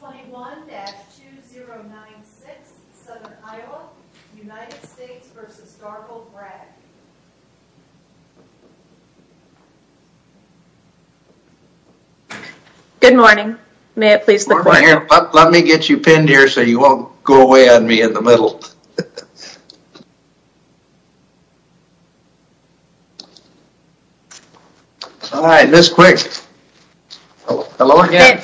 21-2096 Southern Iowa, United States v. Darvill Bragg Good morning, may it please the court. Let me get you pinned here so you won't go away on me in the middle. Alright, Ms. Quick. Hello again.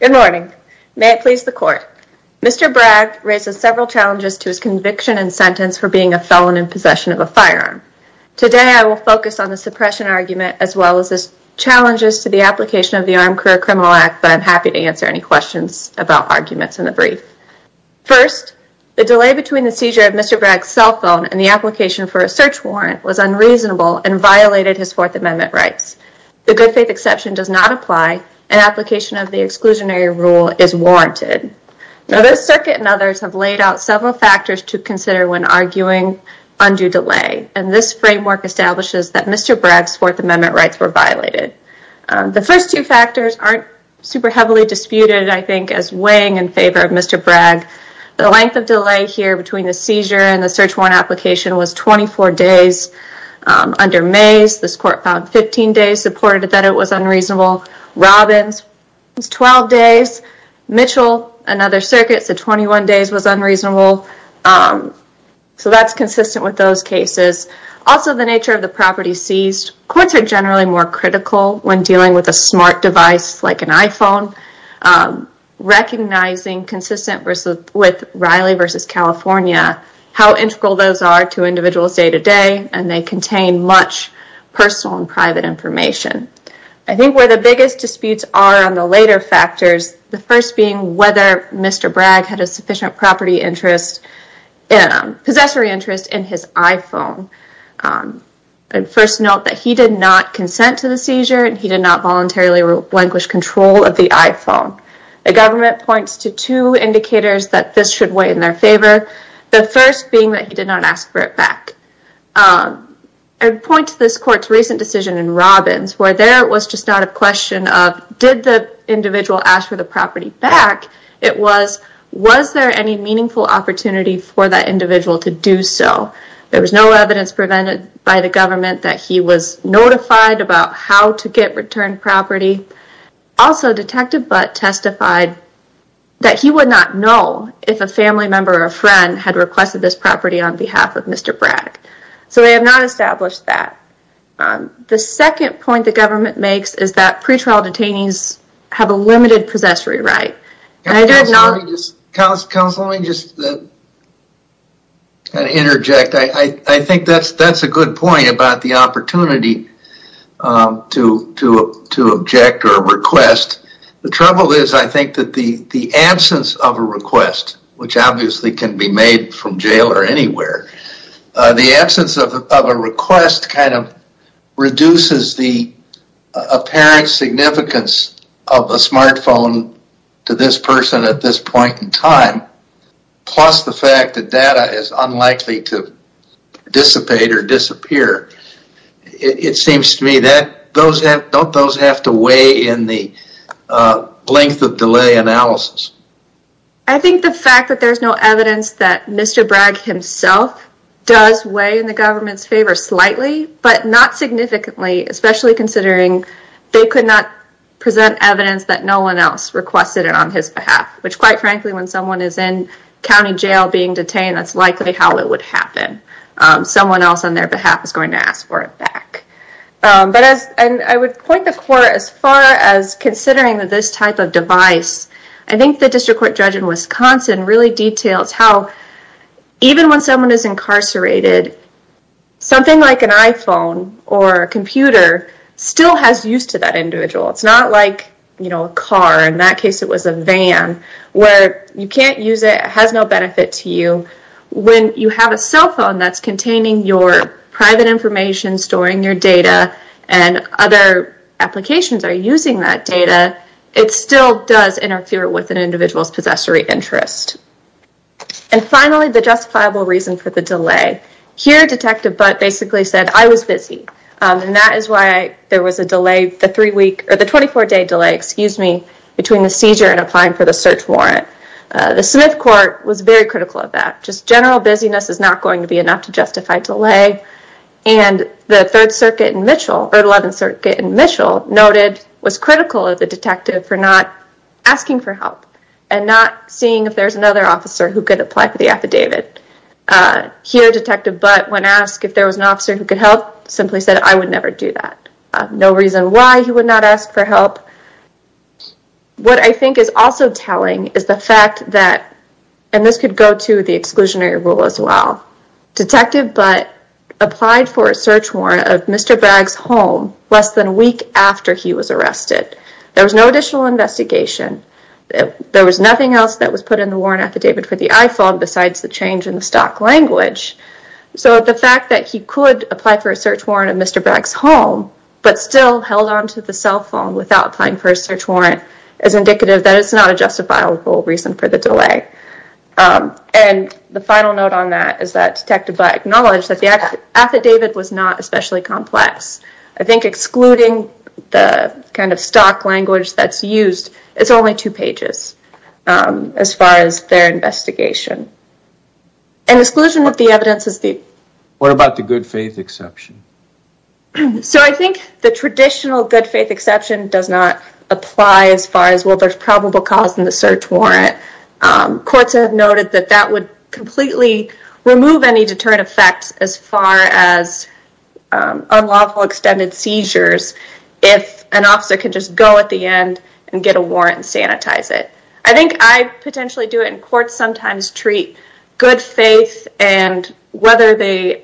Good morning, may it please the court. Mr. Bragg raises several challenges to his conviction and sentence for being a felon in possession of a firearm. Today I will focus on the suppression argument as well as challenges to the application of the Armed Career Criminal Act, but I'm happy to answer any questions about arguments in the brief. First, the delay between the seizure of Mr. Bragg's cell phone and the application for a search warrant was unreasonable and violated his Fourth Amendment rights. The good faith exception does not apply, and application of the exclusionary rule is warranted. Now, this circuit and others have laid out several factors to consider when arguing undue delay, and this framework establishes that Mr. Bragg's Fourth Amendment rights were violated. The first two factors aren't super heavily disputed, I think, as weighing in favor of Mr. Bragg. The length of delay here between the seizure and the search warrant application was 24 days. Under Mays, this court found 15 days supported that it was unreasonable. Robbins, 12 days. Mitchell and other circuits said 21 days was unreasonable. So that's consistent with those cases. Also, the nature of the property seized. Courts are generally more critical when dealing with a smart device like an iPhone, recognizing, consistent with Riley v. California, how integral those are to individuals' day-to-day, and they contain much personal and private information. I think where the biggest disputes are on the later factors, the first being whether Mr. Bragg had a sufficient possessory interest in his iPhone. I'd first note that he did not consent to the seizure, and he did not voluntarily relinquish control of the iPhone. The government points to two indicators that this should weigh in their favor, the first being that he did not ask for it back. I'd point to this court's recent decision in Robbins, where there was just not a question of, did the individual ask for the property back? It was, was there any meaningful opportunity for that individual to do so? There was no evidence prevented by the government that he was notified about how to get returned property. Also, Detective Butt testified that he would not know if a family member or a friend had requested this property on behalf of Mr. Bragg. So they have not established that. The second point the government makes is that pretrial detainees have a limited possessory right. Counselor, let me just interject. I think that's a good point about the opportunity to object or request. The trouble is, I think that the absence of a request, which obviously can be made from jail or anywhere, the absence of a request kind of reduces the apparent significance of a smartphone to this person at this point in time, plus the fact that data is unlikely to dissipate or disappear. It seems to me that, don't those have to weigh in the length of delay analysis? I think the fact that there's no evidence that Mr. Bragg himself does weigh in the government's favor slightly, but not significantly, especially considering they could not present evidence that no one else requested it on his behalf, which quite frankly, when someone is in county jail being detained, that's likely how it would happen. Someone else on their behalf is going to ask for it back. But as I would point the court as far as considering that this type of device, I think the district court judge in Wisconsin really details how, even when someone is incarcerated, something like an iPhone or a computer still has use to that individual. It's not like a car, in that case it was a van, where you can't use it, it has no benefit to you. When you have a cell phone that's containing your private information, storing your data, and other applications are using that data, it still does interfere with an individual's possessory interest. And finally, the justifiable reason for the delay. Here, Detective Butt basically said, I was busy. And that is why there was a 24-day delay between the seizure and applying for the search warrant. The Smith court was very critical of that. Just general busyness is not going to be enough to justify delay. And the Third Circuit in Mitchell, or the Eleventh Circuit in Mitchell, noted, was critical of the detective for not asking for help, and not seeing if there's another officer who could apply for the affidavit. Here, Detective Butt, when asked if there was an officer who could help, simply said, I would never do that. No reason why he would not ask for help. What I think is also telling is the fact that, and this could go to the exclusionary rule as well, Detective Butt applied for a search warrant of Mr. Bragg's home less than a week after he was arrested. There was no additional investigation. There was nothing else that was put in the warrant affidavit for the I-FOB, besides the change in the stock language. So the fact that he could apply for a search warrant of Mr. Bragg's home, but still held onto the cell phone without applying for a search warrant, is indicative that it's not a justifiable reason for the delay. And the final note on that is that Detective Butt acknowledged that the affidavit was not especially complex. I think excluding the kind of stock language that's used, it's only two pages as far as their investigation. And exclusion of the evidence is the... What about the good faith exception? So I think the traditional good faith exception does not apply as far as, well, there's probable cause in the search warrant. Courts have noted that that would completely remove any deterrent effects as far as unlawful extended seizures, if an officer could just go at the end and get a warrant and sanitize it. I think I potentially do it in court sometimes, treat good faith and whether the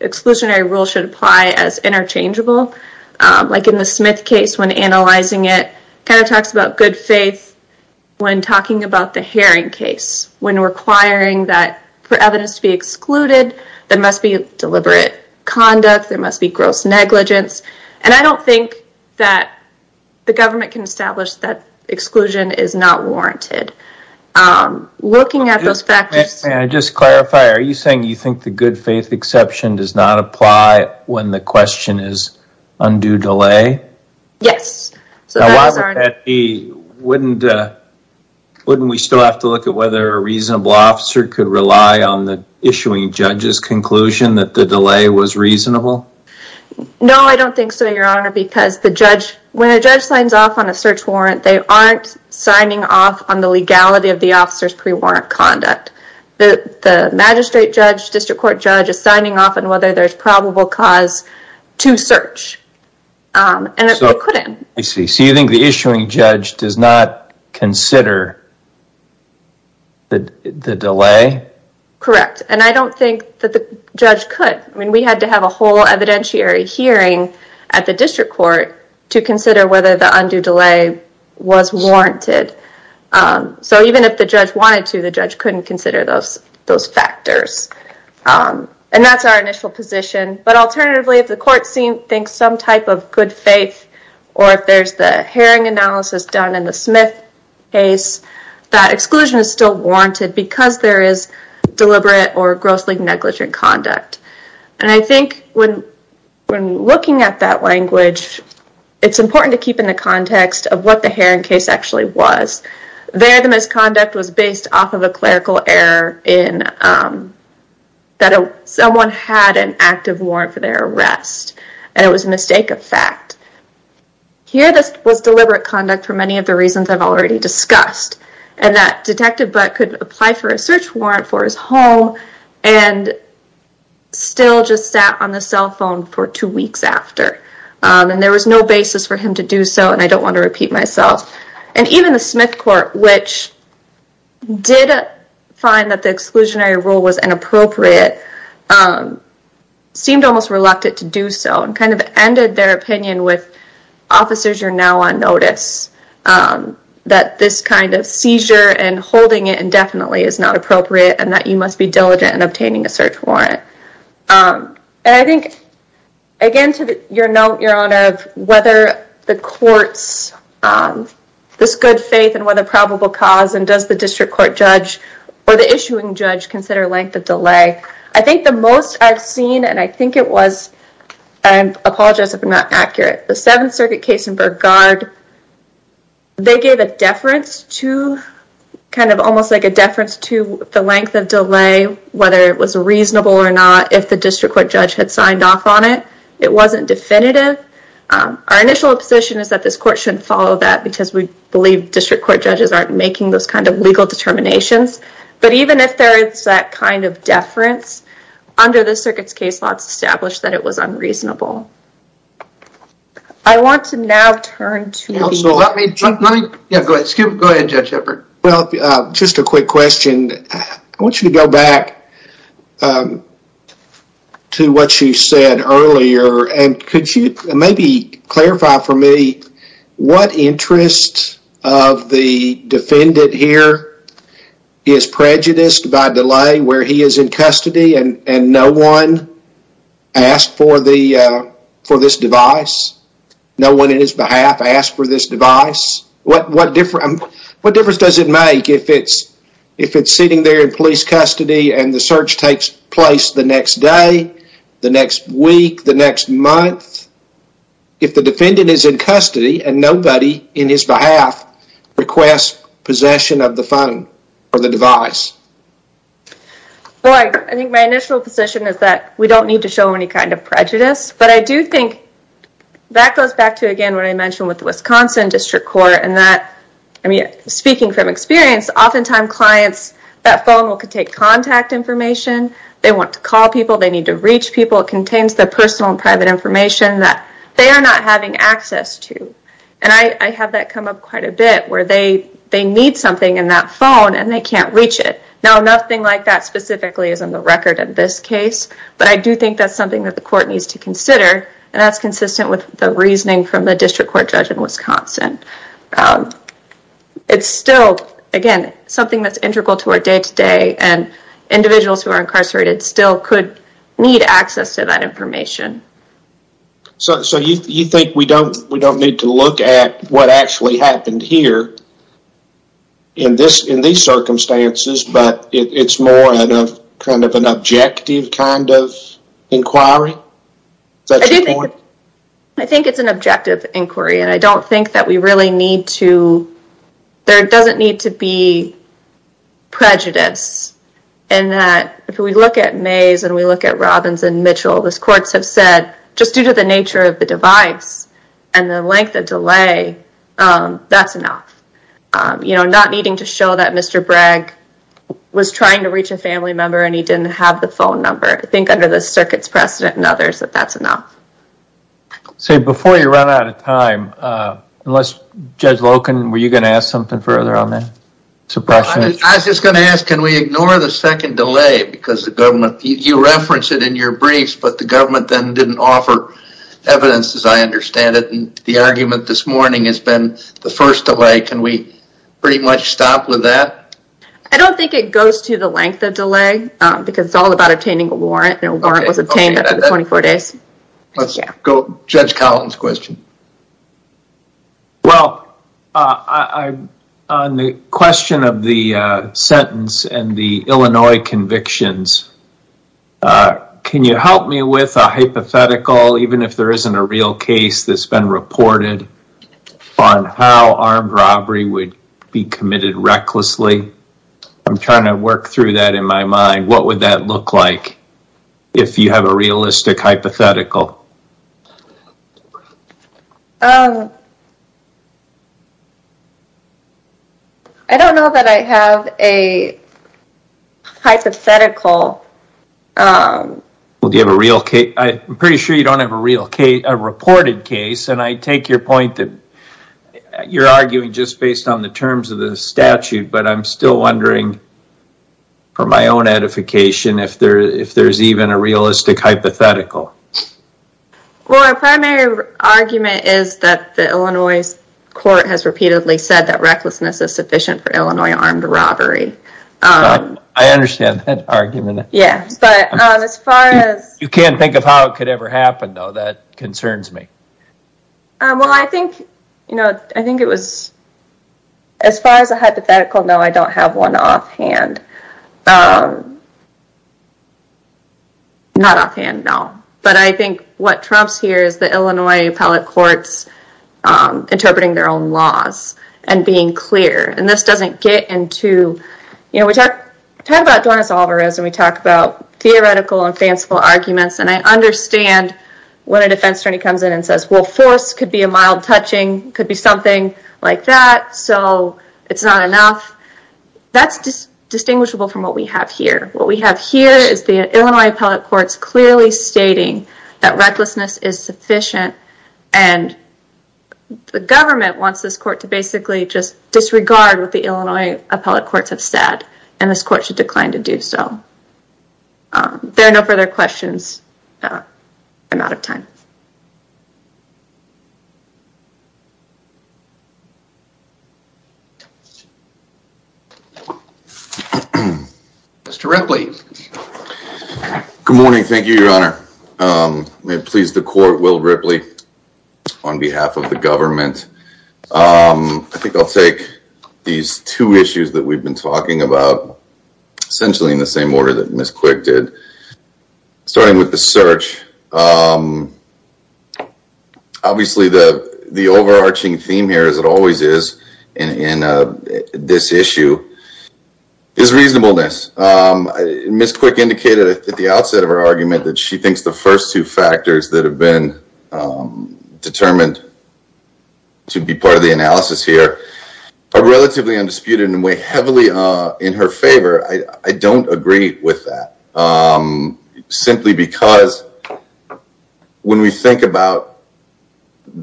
exclusionary rule should apply as interchangeable. Like in the Smith case, when analyzing it, kind of talks about good faith when talking about the Herring case, when requiring that for evidence to be excluded, there must be deliberate conduct, there must be gross negligence. And I don't think that the government can establish that exclusion is not warranted. Looking at those factors... May I just clarify, are you saying you think the good faith exception does not apply when the question is undue delay? Yes. Wouldn't we still have to look at whether a reasonable officer could rely on the issuing judge's conclusion that the delay was reasonable? No, I don't think so, Your Honor, because when a judge signs off on a search warrant, they aren't signing off on the legality of the officer's pre-warrant conduct. The magistrate judge, district court judge, is signing off on whether there's probable cause to search. And they couldn't. I see. So you think the issuing judge does not consider the delay? Correct. And I don't think that the judge could. I mean, we had to have a whole evidentiary hearing at the district court to consider whether the undue delay was warranted. So even if the judge wanted to, the judge couldn't consider those factors. And that's our initial position. But alternatively, if the court thinks some type of good faith or if there's the hearing analysis done in the Smith case, that exclusion is still warranted because there is deliberate or grossly negligent conduct. And I think when looking at that language, it's important to keep in the context of what the Haring case actually was. There, the misconduct was based off of a clerical error that someone had an active warrant for their arrest, and it was a mistake of fact. Here, this was deliberate conduct for many of the reasons I've already discussed, and that Detective Butt could apply for a search warrant for his home and still just sat on the cell phone for two weeks after. And there was no basis for him to do so, and I don't want to repeat myself. And even the Smith court, which did find that the exclusionary rule was inappropriate, seemed almost reluctant to do so and kind of ended their opinion with, officers, you're now on notice that this kind of seizure and holding it indefinitely is not appropriate and that you must be diligent in obtaining a search warrant. And I think, again, to your note, Your Honor, in terms of whether the court's, this good faith and whether probable cause, and does the district court judge or the issuing judge consider length of delay, I think the most I've seen, and I think it was, I apologize if I'm not accurate, the Seventh Circuit case in Burggard, they gave a deference to, kind of almost like a deference to the length of delay, whether it was reasonable or not, if the district court judge had signed off on it. It wasn't definitive. Our initial position is that this court shouldn't follow that because we believe district court judges aren't making those kind of legal determinations. But even if there is that kind of deference, under the circuit's case law, it's established that it was unreasonable. I want to now turn to- Let me, let me- Yeah, go ahead. Go ahead, Judge Hepburn. Well, just a quick question. I want you to go back to what you said earlier and could you maybe clarify for me what interest of the defendant here is prejudiced by delay where he is in custody and no one asked for this device? No one in his behalf asked for this device? What difference does it make if it's sitting there in police custody and the search takes place the next day, the next week, the next month, if the defendant is in custody and nobody in his behalf requests possession of the phone or the device? Well, I think my initial position is that we don't need to show any kind of prejudice, but I do think that goes back to, again, what I mentioned with the Wisconsin District Court and that, I mean, speaking from experience, oftentimes clients, that phone will contain contact information. They want to call people. They need to reach people. It contains the personal and private information that they are not having access to and I have that come up quite a bit where they need something in that phone and they can't reach it. Now, nothing like that specifically is on the record in this case, but I do think that's something that the court needs to consider and that's consistent with the reasoning from the District Court judge in Wisconsin. It's still, again, something that's integral to our day-to-day and individuals who are incarcerated still could need access to that information. So you think we don't need to look at what actually happened here in these circumstances, but it's more kind of an objective kind of inquiry? Is that your point? I think it's an objective inquiry and I don't think that we really need to, there doesn't need to be prejudice in that if we look at Mays and we look at Robbins and Mitchell, the courts have said, just due to the nature of the device and the length of delay, that's enough. You know, not needing to show that Mr. Bragg was trying to reach a family member and he didn't have the phone number. I think under the circuit's precedent and others that that's enough. So before you run out of time, unless Judge Loken, were you going to ask something further on that? I was just going to ask, can we ignore the second delay because the government, you referenced it in your briefs, but the government then didn't offer evidence as I understand it and the argument this morning has been the first delay. Can we pretty much stop with that? I don't think it goes to the length of delay because it's all about obtaining a warrant and a warrant was obtained after the 24 days. Let's go to Judge Cowlton's question. Well, on the question of the sentence and the Illinois convictions, can you help me with a hypothetical, even if there isn't a real case that's been reported on how armed robbery would be committed recklessly? I'm trying to work through that in my mind. What would that look like if you have a realistic hypothetical? I don't know that I have a hypothetical. Well, do you have a real case? I'm pretty sure you don't have a reported case and I take your point that you're arguing just based on the terms of the statute, but I'm still wondering for my own edification if there's even a realistic hypothetical. Well, our primary argument is that the Illinois court has repeatedly said that recklessness is sufficient for Illinois armed robbery. I understand that argument. Yeah, but as far as... You can't think of how it could ever happen, though. That concerns me. Well, I think it was... Hypothetical? No, I don't have one offhand. Not offhand, no. But I think what trumps here is the Illinois appellate courts interpreting their own laws and being clear, and this doesn't get into... You know, we talk about Dornis Alvarez and we talk about theoretical and fanciful arguments, and I understand when a defense attorney comes in and says, well, force could be a mild touching, could be something like that, so it's not enough. That's distinguishable from what we have here. What we have here is the Illinois appellate courts clearly stating that recklessness is sufficient, and the government wants this court to basically just disregard what the Illinois appellate courts have said, and this court should decline to do so. There are no further questions. I'm out of time. Mr. Ripley. Good morning. Thank you, Your Honor. May it please the court, Will Ripley, on behalf of the government. I think I'll take these two issues that we've been talking about, essentially in the same order that Ms. Quick did, starting with the search. Obviously, the overarching theme here, as it always is, in this issue is reasonableness. Ms. Quick indicated at the outset of her argument that she thinks the first two factors that have been determined to be part of the analysis here are relatively undisputed and weigh heavily in her favor. I don't agree with that, simply because when we think about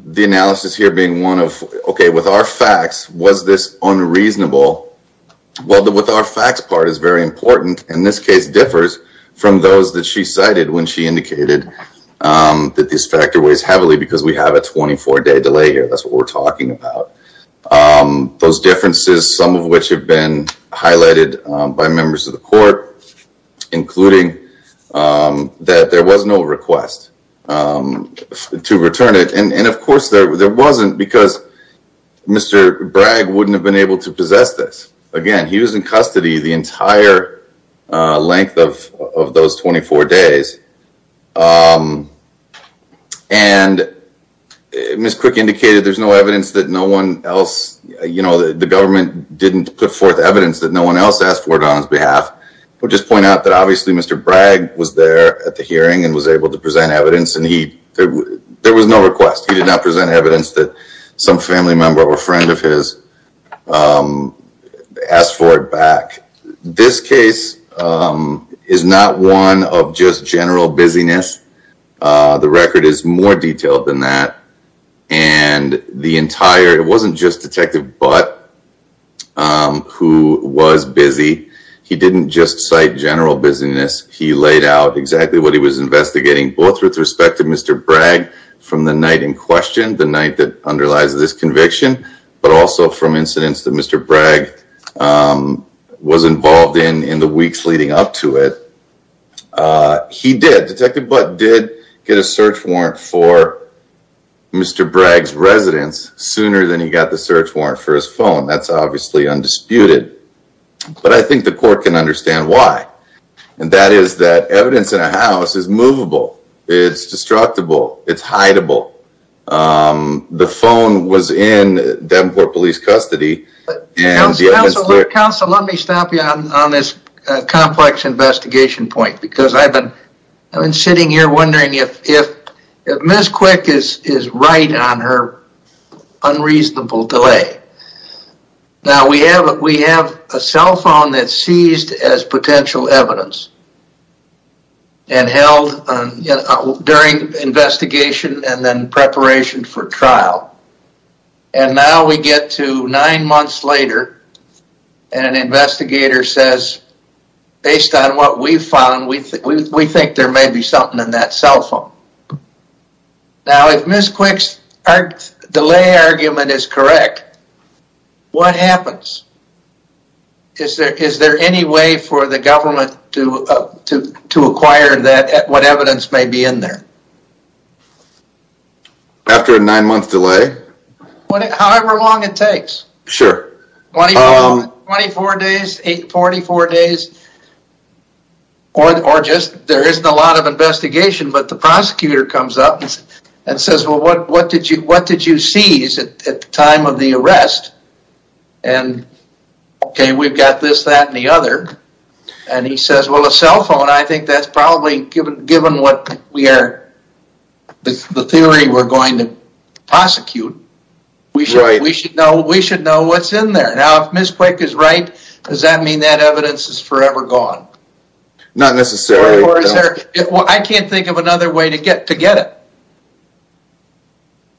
the analysis here as being one of, okay, with our facts, was this unreasonable? Well, the with our facts part is very important, and this case differs from those that she cited when she indicated that this factor weighs heavily because we have a 24-day delay here. That's what we're talking about. Those differences, some of which have been highlighted by members of the court, including that there was no request to return it. And, of course, there wasn't, because Mr. Bragg wouldn't have been able to possess this. Again, he was in custody the entire length of those 24 days. And Ms. Quick indicated there's no evidence that no one else, you know, the government didn't put forth evidence that no one else asked for it on his behalf. I'll just point out that, obviously, Mr. Bragg was there at the hearing and was able to present evidence, and there was no request. He did not present evidence that some family member or friend of his asked for it back. This case is not one of just general busyness. The record is more detailed than that. And the entire, it wasn't just Detective Butt who was busy. He didn't just cite general busyness. He laid out exactly what he was investigating, both with respect to Mr. Bragg from the night in question, the night that underlies this conviction, but also from incidents that Mr. Bragg was involved in in the weeks leading up to it. He did, Detective Butt did get a search warrant for Mr. Bragg's residence sooner than he got the search warrant for his phone. That's obviously undisputed. But I think the court can understand why, and that is that evidence in a house is movable. It's destructible. It's hideable. The phone was in Davenport Police custody. Counsel, let me stop you on this complex investigation point because I've been sitting here wondering if Ms. Quick is right on her unreasonable delay. Now, we have a cell phone that's seized as potential evidence and held during investigation and then preparation for trial. And now we get to nine months later, and an investigator says, based on what we found, we think there may be something in that cell phone. Now, if Ms. Quick's delay argument is correct, what happens? Is there any way for the government to acquire what evidence may be in there? After a nine-month delay. However long it takes. Sure. 24 days, 844 days, or just there isn't a lot of investigation, but the prosecutor comes up and says, well, what did you seize at the time of the arrest? And, okay, we've got this, that, and the other. And he says, well, the cell phone, I think that's probably, given what we are, the theory we're going to prosecute, we should know what's in there. Now, if Ms. Quick is right, does that mean that evidence is forever gone? Not necessarily. I can't think of another way to get it.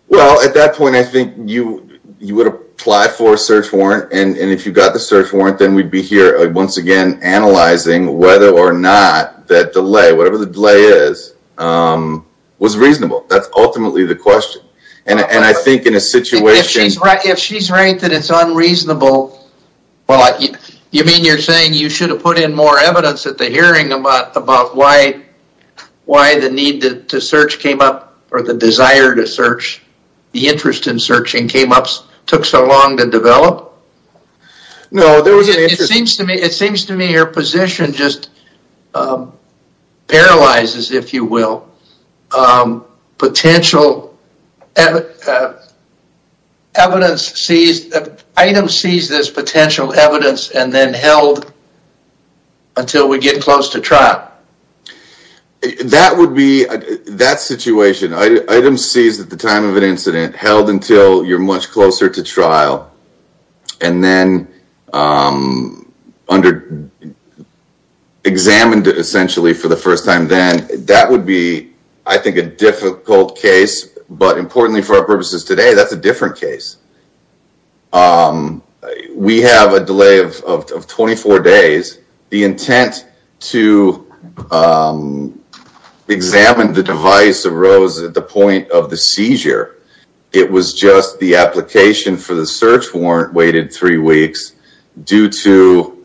Well, at that point, I think you would apply for a search warrant, and if you got the search warrant, then we'd be here once again analyzing whether or not that delay, whatever the delay is, was reasonable. That's ultimately the question. And I think in a situation. If she's right that it's unreasonable, you mean you're saying you should have put in more evidence at the hearing about why the need to search came up, or the desire to search, the interest in searching came up, took so long to develop? No, there was an interest. It seems to me your position just paralyzes, if you will, potential evidence seized, item seized as potential evidence and then held until we get close to trial. That would be, that situation, item seized at the time of an incident, held until you're much closer to trial, and then examined essentially for the first time then, that would be, I think, a difficult case, but importantly for our purposes today, that's a different case. We have a delay of 24 days. The intent to examine the device arose at the point of the seizure. It was just the application for the search warrant waited three weeks due to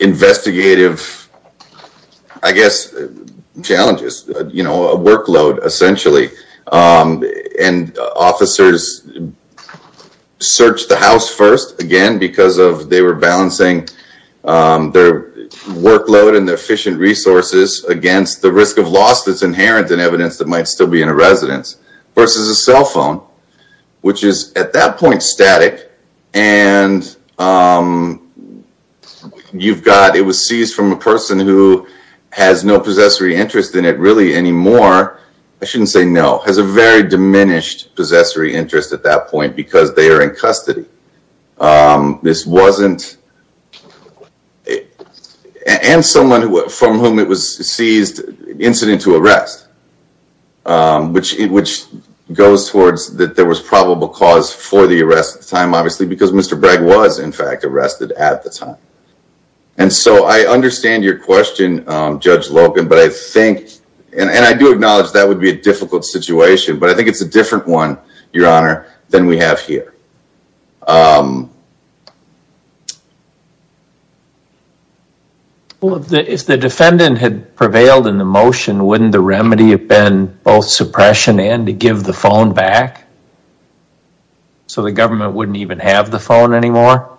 investigative, I guess, challenges, you know, a workload essentially. And officers searched the house first, again, because they were balancing their workload and their efficient resources against the risk of loss that's inherent in evidence that might still be in a residence, versus a cell phone, which is at that point static, and you've got, it was seized from a person who has no possessory interest in it really anymore. I shouldn't say no, has a very diminished possessory interest at that point because they are in custody. This wasn't, and someone from whom it was seized, incident to arrest, which goes towards that there was probable cause for the arrest at the time, obviously, because Mr. Bragg was in fact arrested at the time. And so I understand your question, Judge Logan, but I think, and I do acknowledge that would be a difficult situation, but I think it's a different one, Your Honor, than we have here. Well, if the defendant had prevailed in the motion, wouldn't the remedy have been both suppression and to give the phone back? So the government wouldn't even have the phone anymore?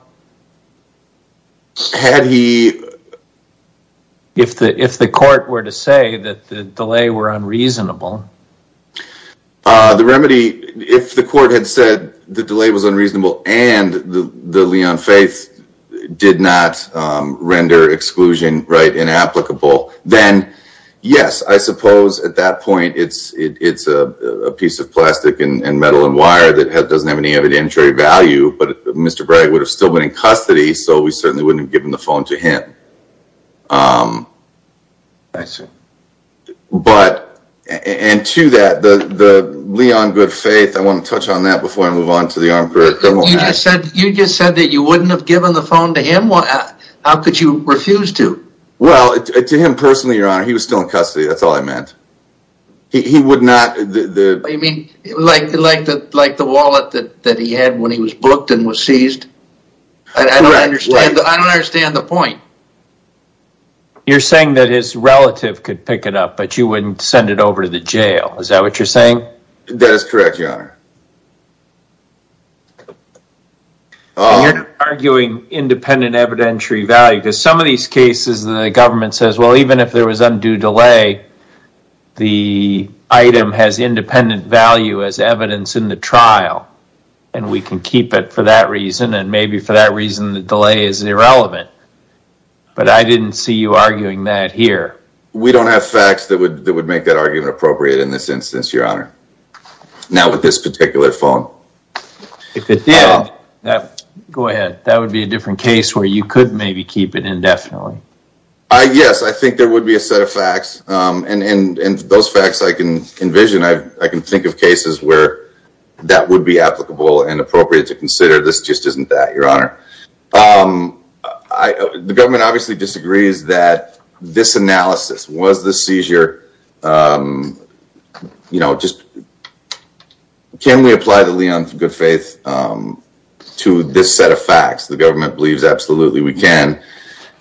Had he... If the court were to say that the delay were unreasonable? The remedy, if the court had said the delay was unreasonable and the Leon Faith did not render exclusion inapplicable, then yes, I suppose at that point it's a piece of plastic and metal and wire that doesn't have any evidentiary value, so we certainly wouldn't have given the phone to him. I see. But, and to that, the Leon Good Faith, I want to touch on that before I move on to the armed criminal act. You just said that you wouldn't have given the phone to him? How could you refuse to? Well, to him personally, Your Honor, he was still in custody, that's all I meant. He would not... You mean like the wallet that he had when he was booked and was seized? Correct. I don't understand the point. You're saying that his relative could pick it up, but you wouldn't send it over to the jail, is that what you're saying? That is correct, Your Honor. You're arguing independent evidentiary value, because some of these cases the government says, well, even if there was undue delay, the item has independent value as evidence in the trial, and we can keep it for that reason, and maybe for that reason the delay is irrelevant. But I didn't see you arguing that here. We don't have facts that would make that argument appropriate in this instance, Your Honor. Not with this particular phone. If it did, that would be a different case where you could maybe keep it indefinitely. Yes, I think there would be a set of facts, and those facts I can envision, and I can think of cases where that would be applicable and appropriate to consider. This just isn't that, Your Honor. The government obviously disagrees that this analysis, was the seizure, you know, just can we apply the lien of good faith to this set of facts? The government believes absolutely we can.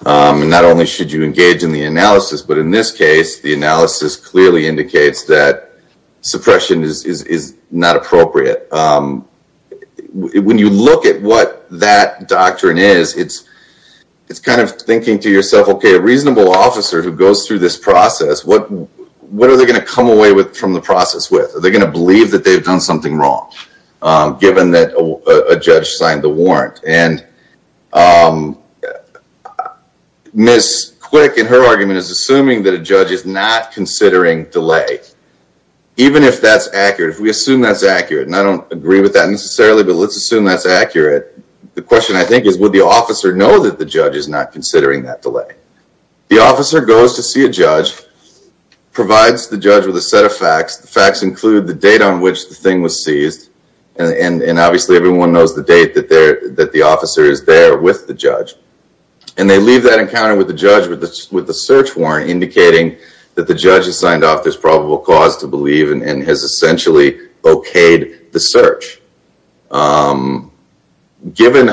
Not only should you engage in the analysis, but in this case the analysis clearly indicates that suppression is not appropriate. When you look at what that doctrine is, it's kind of thinking to yourself, okay, a reasonable officer who goes through this process, what are they going to come away from the process with? Are they going to believe that they've done something wrong, given that a judge signed the warrant? Ms. Quick, in her argument, is assuming that a judge is not considering delay. Even if that's accurate, if we assume that's accurate, and I don't agree with that necessarily, but let's assume that's accurate, the question I think is would the officer know that the judge is not considering that delay? The officer goes to see a judge, provides the judge with a set of facts. The facts include the date on which the thing was seized, and obviously everyone knows the date that the officer is there with the judge. And they leave that encounter with the judge with a search warrant indicating that the judge has signed off there's probable cause to believe and has essentially okayed the search. Given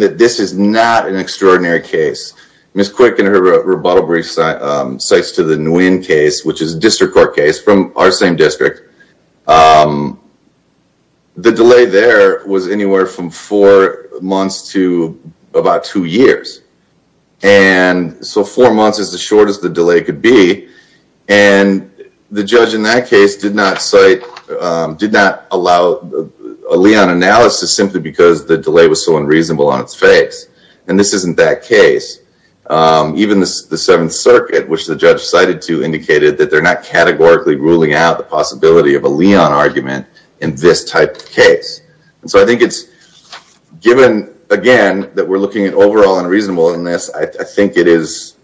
that this is not an extraordinary case, Ms. Quick in her rebuttal brief cites to the Nguyen case, which is a district court case from our same district. The delay there was anywhere from four months to about two years. And so four months is as short as the delay could be, and the judge in that case did not cite, did not allow a lien analysis simply because the delay was so unreasonable on its face. And this isn't that case. Even the Seventh Circuit, which the judge cited to, indicated that they're not categorically ruling out the possibility of a lien argument in this type of case. And so I think it's given, again, that we're looking at overall unreasonableness, I think it is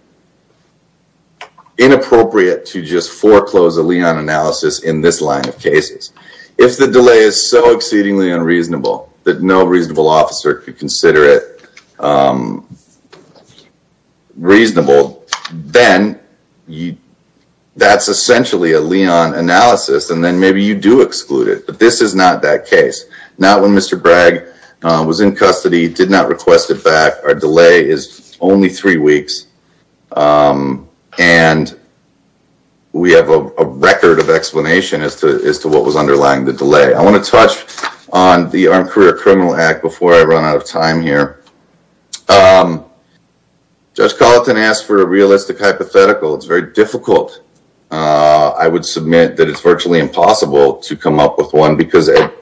inappropriate to just foreclose a lien analysis in this line of cases. If the delay is so exceedingly unreasonable that no reasonable officer could consider it reasonable, then that's essentially a lien analysis, and then maybe you do exclude it. But this is not that case. Not when Mr. Bragg was in custody, did not request it back. Our delay is only three weeks. And we have a record of explanation as to what was underlying the delay. I want to touch on the Armed Career Criminal Act before I run out of time here. Judge Colleton asked for a realistic hypothetical. It's very difficult. I would submit that it's virtually impossible to come up with one, because at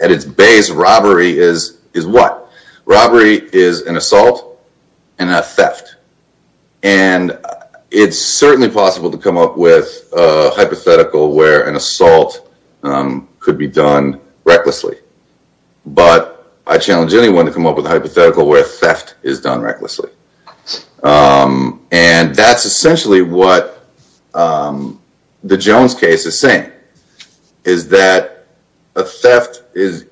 its base, robbery is what? Robbery is an assault and a theft. And it's certainly possible to come up with a hypothetical where an assault could be done recklessly. But I challenge anyone to come up with a hypothetical where theft is done recklessly. And that's essentially what the Jones case is saying, is that a theft is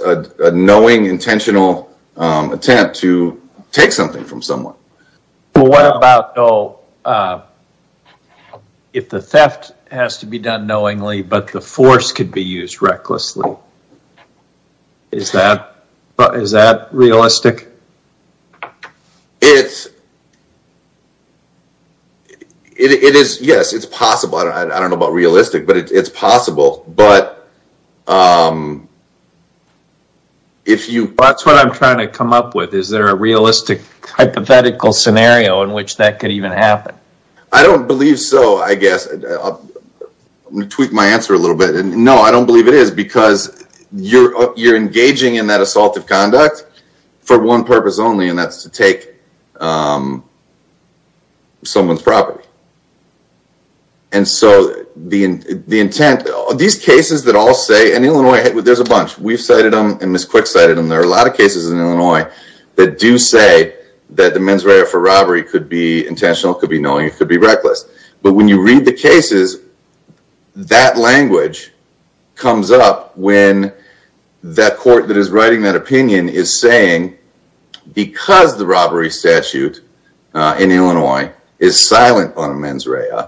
a knowing, intentional attempt to take something from someone. Well, what about if the theft has to be done knowingly, but the force could be used recklessly? Is that realistic? It is, yes, it's possible. I don't know about realistic, but it's possible. But if you... That's what I'm trying to come up with. Is there a realistic hypothetical scenario in which that could even happen? I don't believe so, I guess. I'm going to tweak my answer a little bit. No, I don't believe it is, because you're engaging in that assault of conduct for one purpose only, and that's to take someone's property. And so the intent... These cases that all say... In Illinois, there's a bunch. We've cited them, and Ms. Quick cited them. There are a lot of cases in Illinois that do say that the mens rea for robbery could be intentional, could be knowing, it could be reckless. But when you read the cases, that language comes up when that court that is writing that opinion is saying, because the robbery statute in Illinois is silent on mens rea,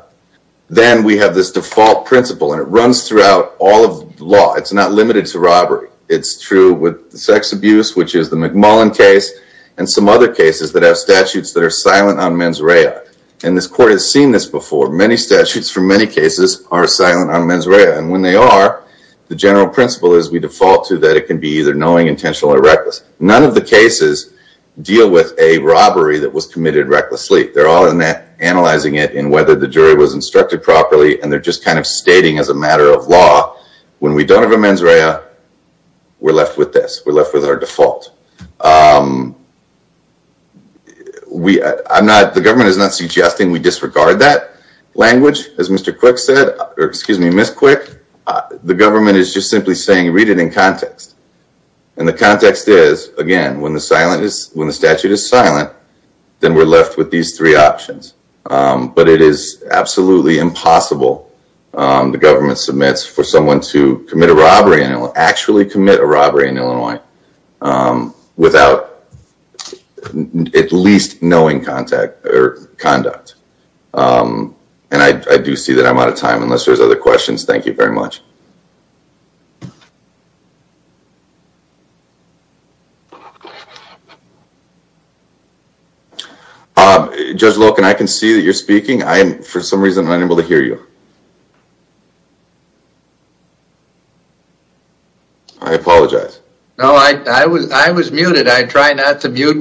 then we have this default principle, and it runs throughout all of law. It's not limited to robbery. It's true with sex abuse, which is the McMullen case, and some other cases that have statutes that are silent on mens rea. And this court has seen this before. Many statutes for many cases are silent on mens rea, and when they are, the general principle is we default to that it can be either knowing, intentional, or reckless. None of the cases deal with a robbery that was committed recklessly. They're all analyzing it in whether the jury was instructed properly, and they're just kind of stating as a matter of law, when we don't have a mens rea, we're left with this. We're left with our default. The government is not suggesting we disregard that language, as Mr. Quick said, or excuse me, Ms. Quick. The government is just simply saying, read it in context. And the context is, again, when the statute is silent, then we're left with these three options. But it is absolutely impossible, the government submits, for someone to commit a robbery, actually commit a robbery in Illinois, without at least knowing conduct. And I do see that I'm out of time, unless there's other questions. Thank you very much. Judge Loken, I can see that you're speaking. I, for some reason, am unable to hear you. I apologize. No, I was muted. I try not to mute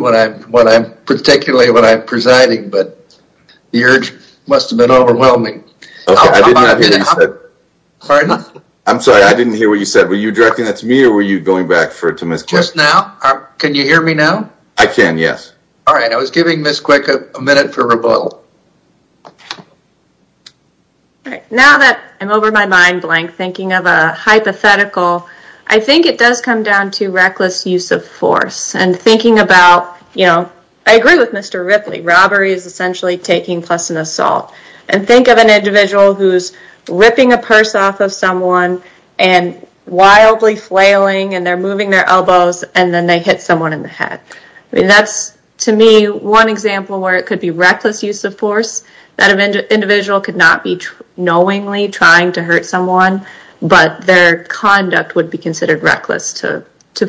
particularly when I'm presiding, but the urge must have been overwhelming. Okay, I didn't hear what you said. Pardon? I'm sorry, I didn't hear what you said. Were you directing that to me, or were you going back to Ms. Quick? Just now? Can you hear me now? I can, yes. All right, I was giving Ms. Quick a minute for rebuttal. Now that I'm over my mind blank, thinking of a hypothetical, I think it does come down to reckless use of force, and thinking about, you know, I agree with Mr. Ripley, robbery is essentially taking plus an assault. And think of an individual who's ripping a purse off of someone and wildly flailing, and they're moving their elbows, and then they hit someone in the head. That's, to me, one example where it could be reckless use of force, that an individual could not be knowingly trying to hurt someone, but their conduct would be considered reckless to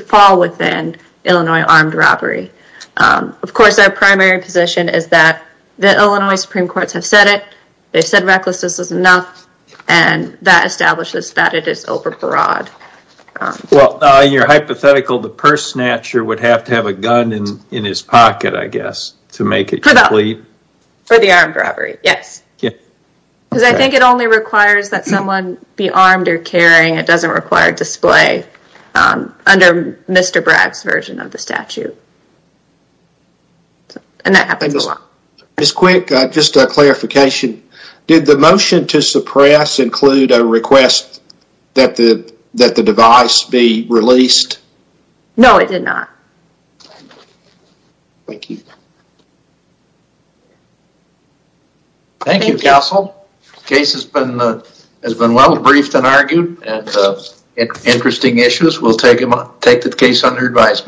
fall within Illinois armed robbery. Of course, our primary position is that the Illinois Supreme Courts have said it, they've said recklessness is enough, and that establishes that it is over broad. Well, in your hypothetical, the purse snatcher would have to have a gun in his pocket, I guess, to make it complete. For the armed robbery, yes. Because I think it only requires that someone be armed or carrying, it doesn't require display under Mr. Bragg's version of the statute. And that happens a lot. Ms. Quick, just a clarification. Did the motion to suppress include a request that the device be released? No, it did not. Thank you. Thank you, counsel. Case has been well briefed and argued, and interesting issues. We'll take the case under advisement.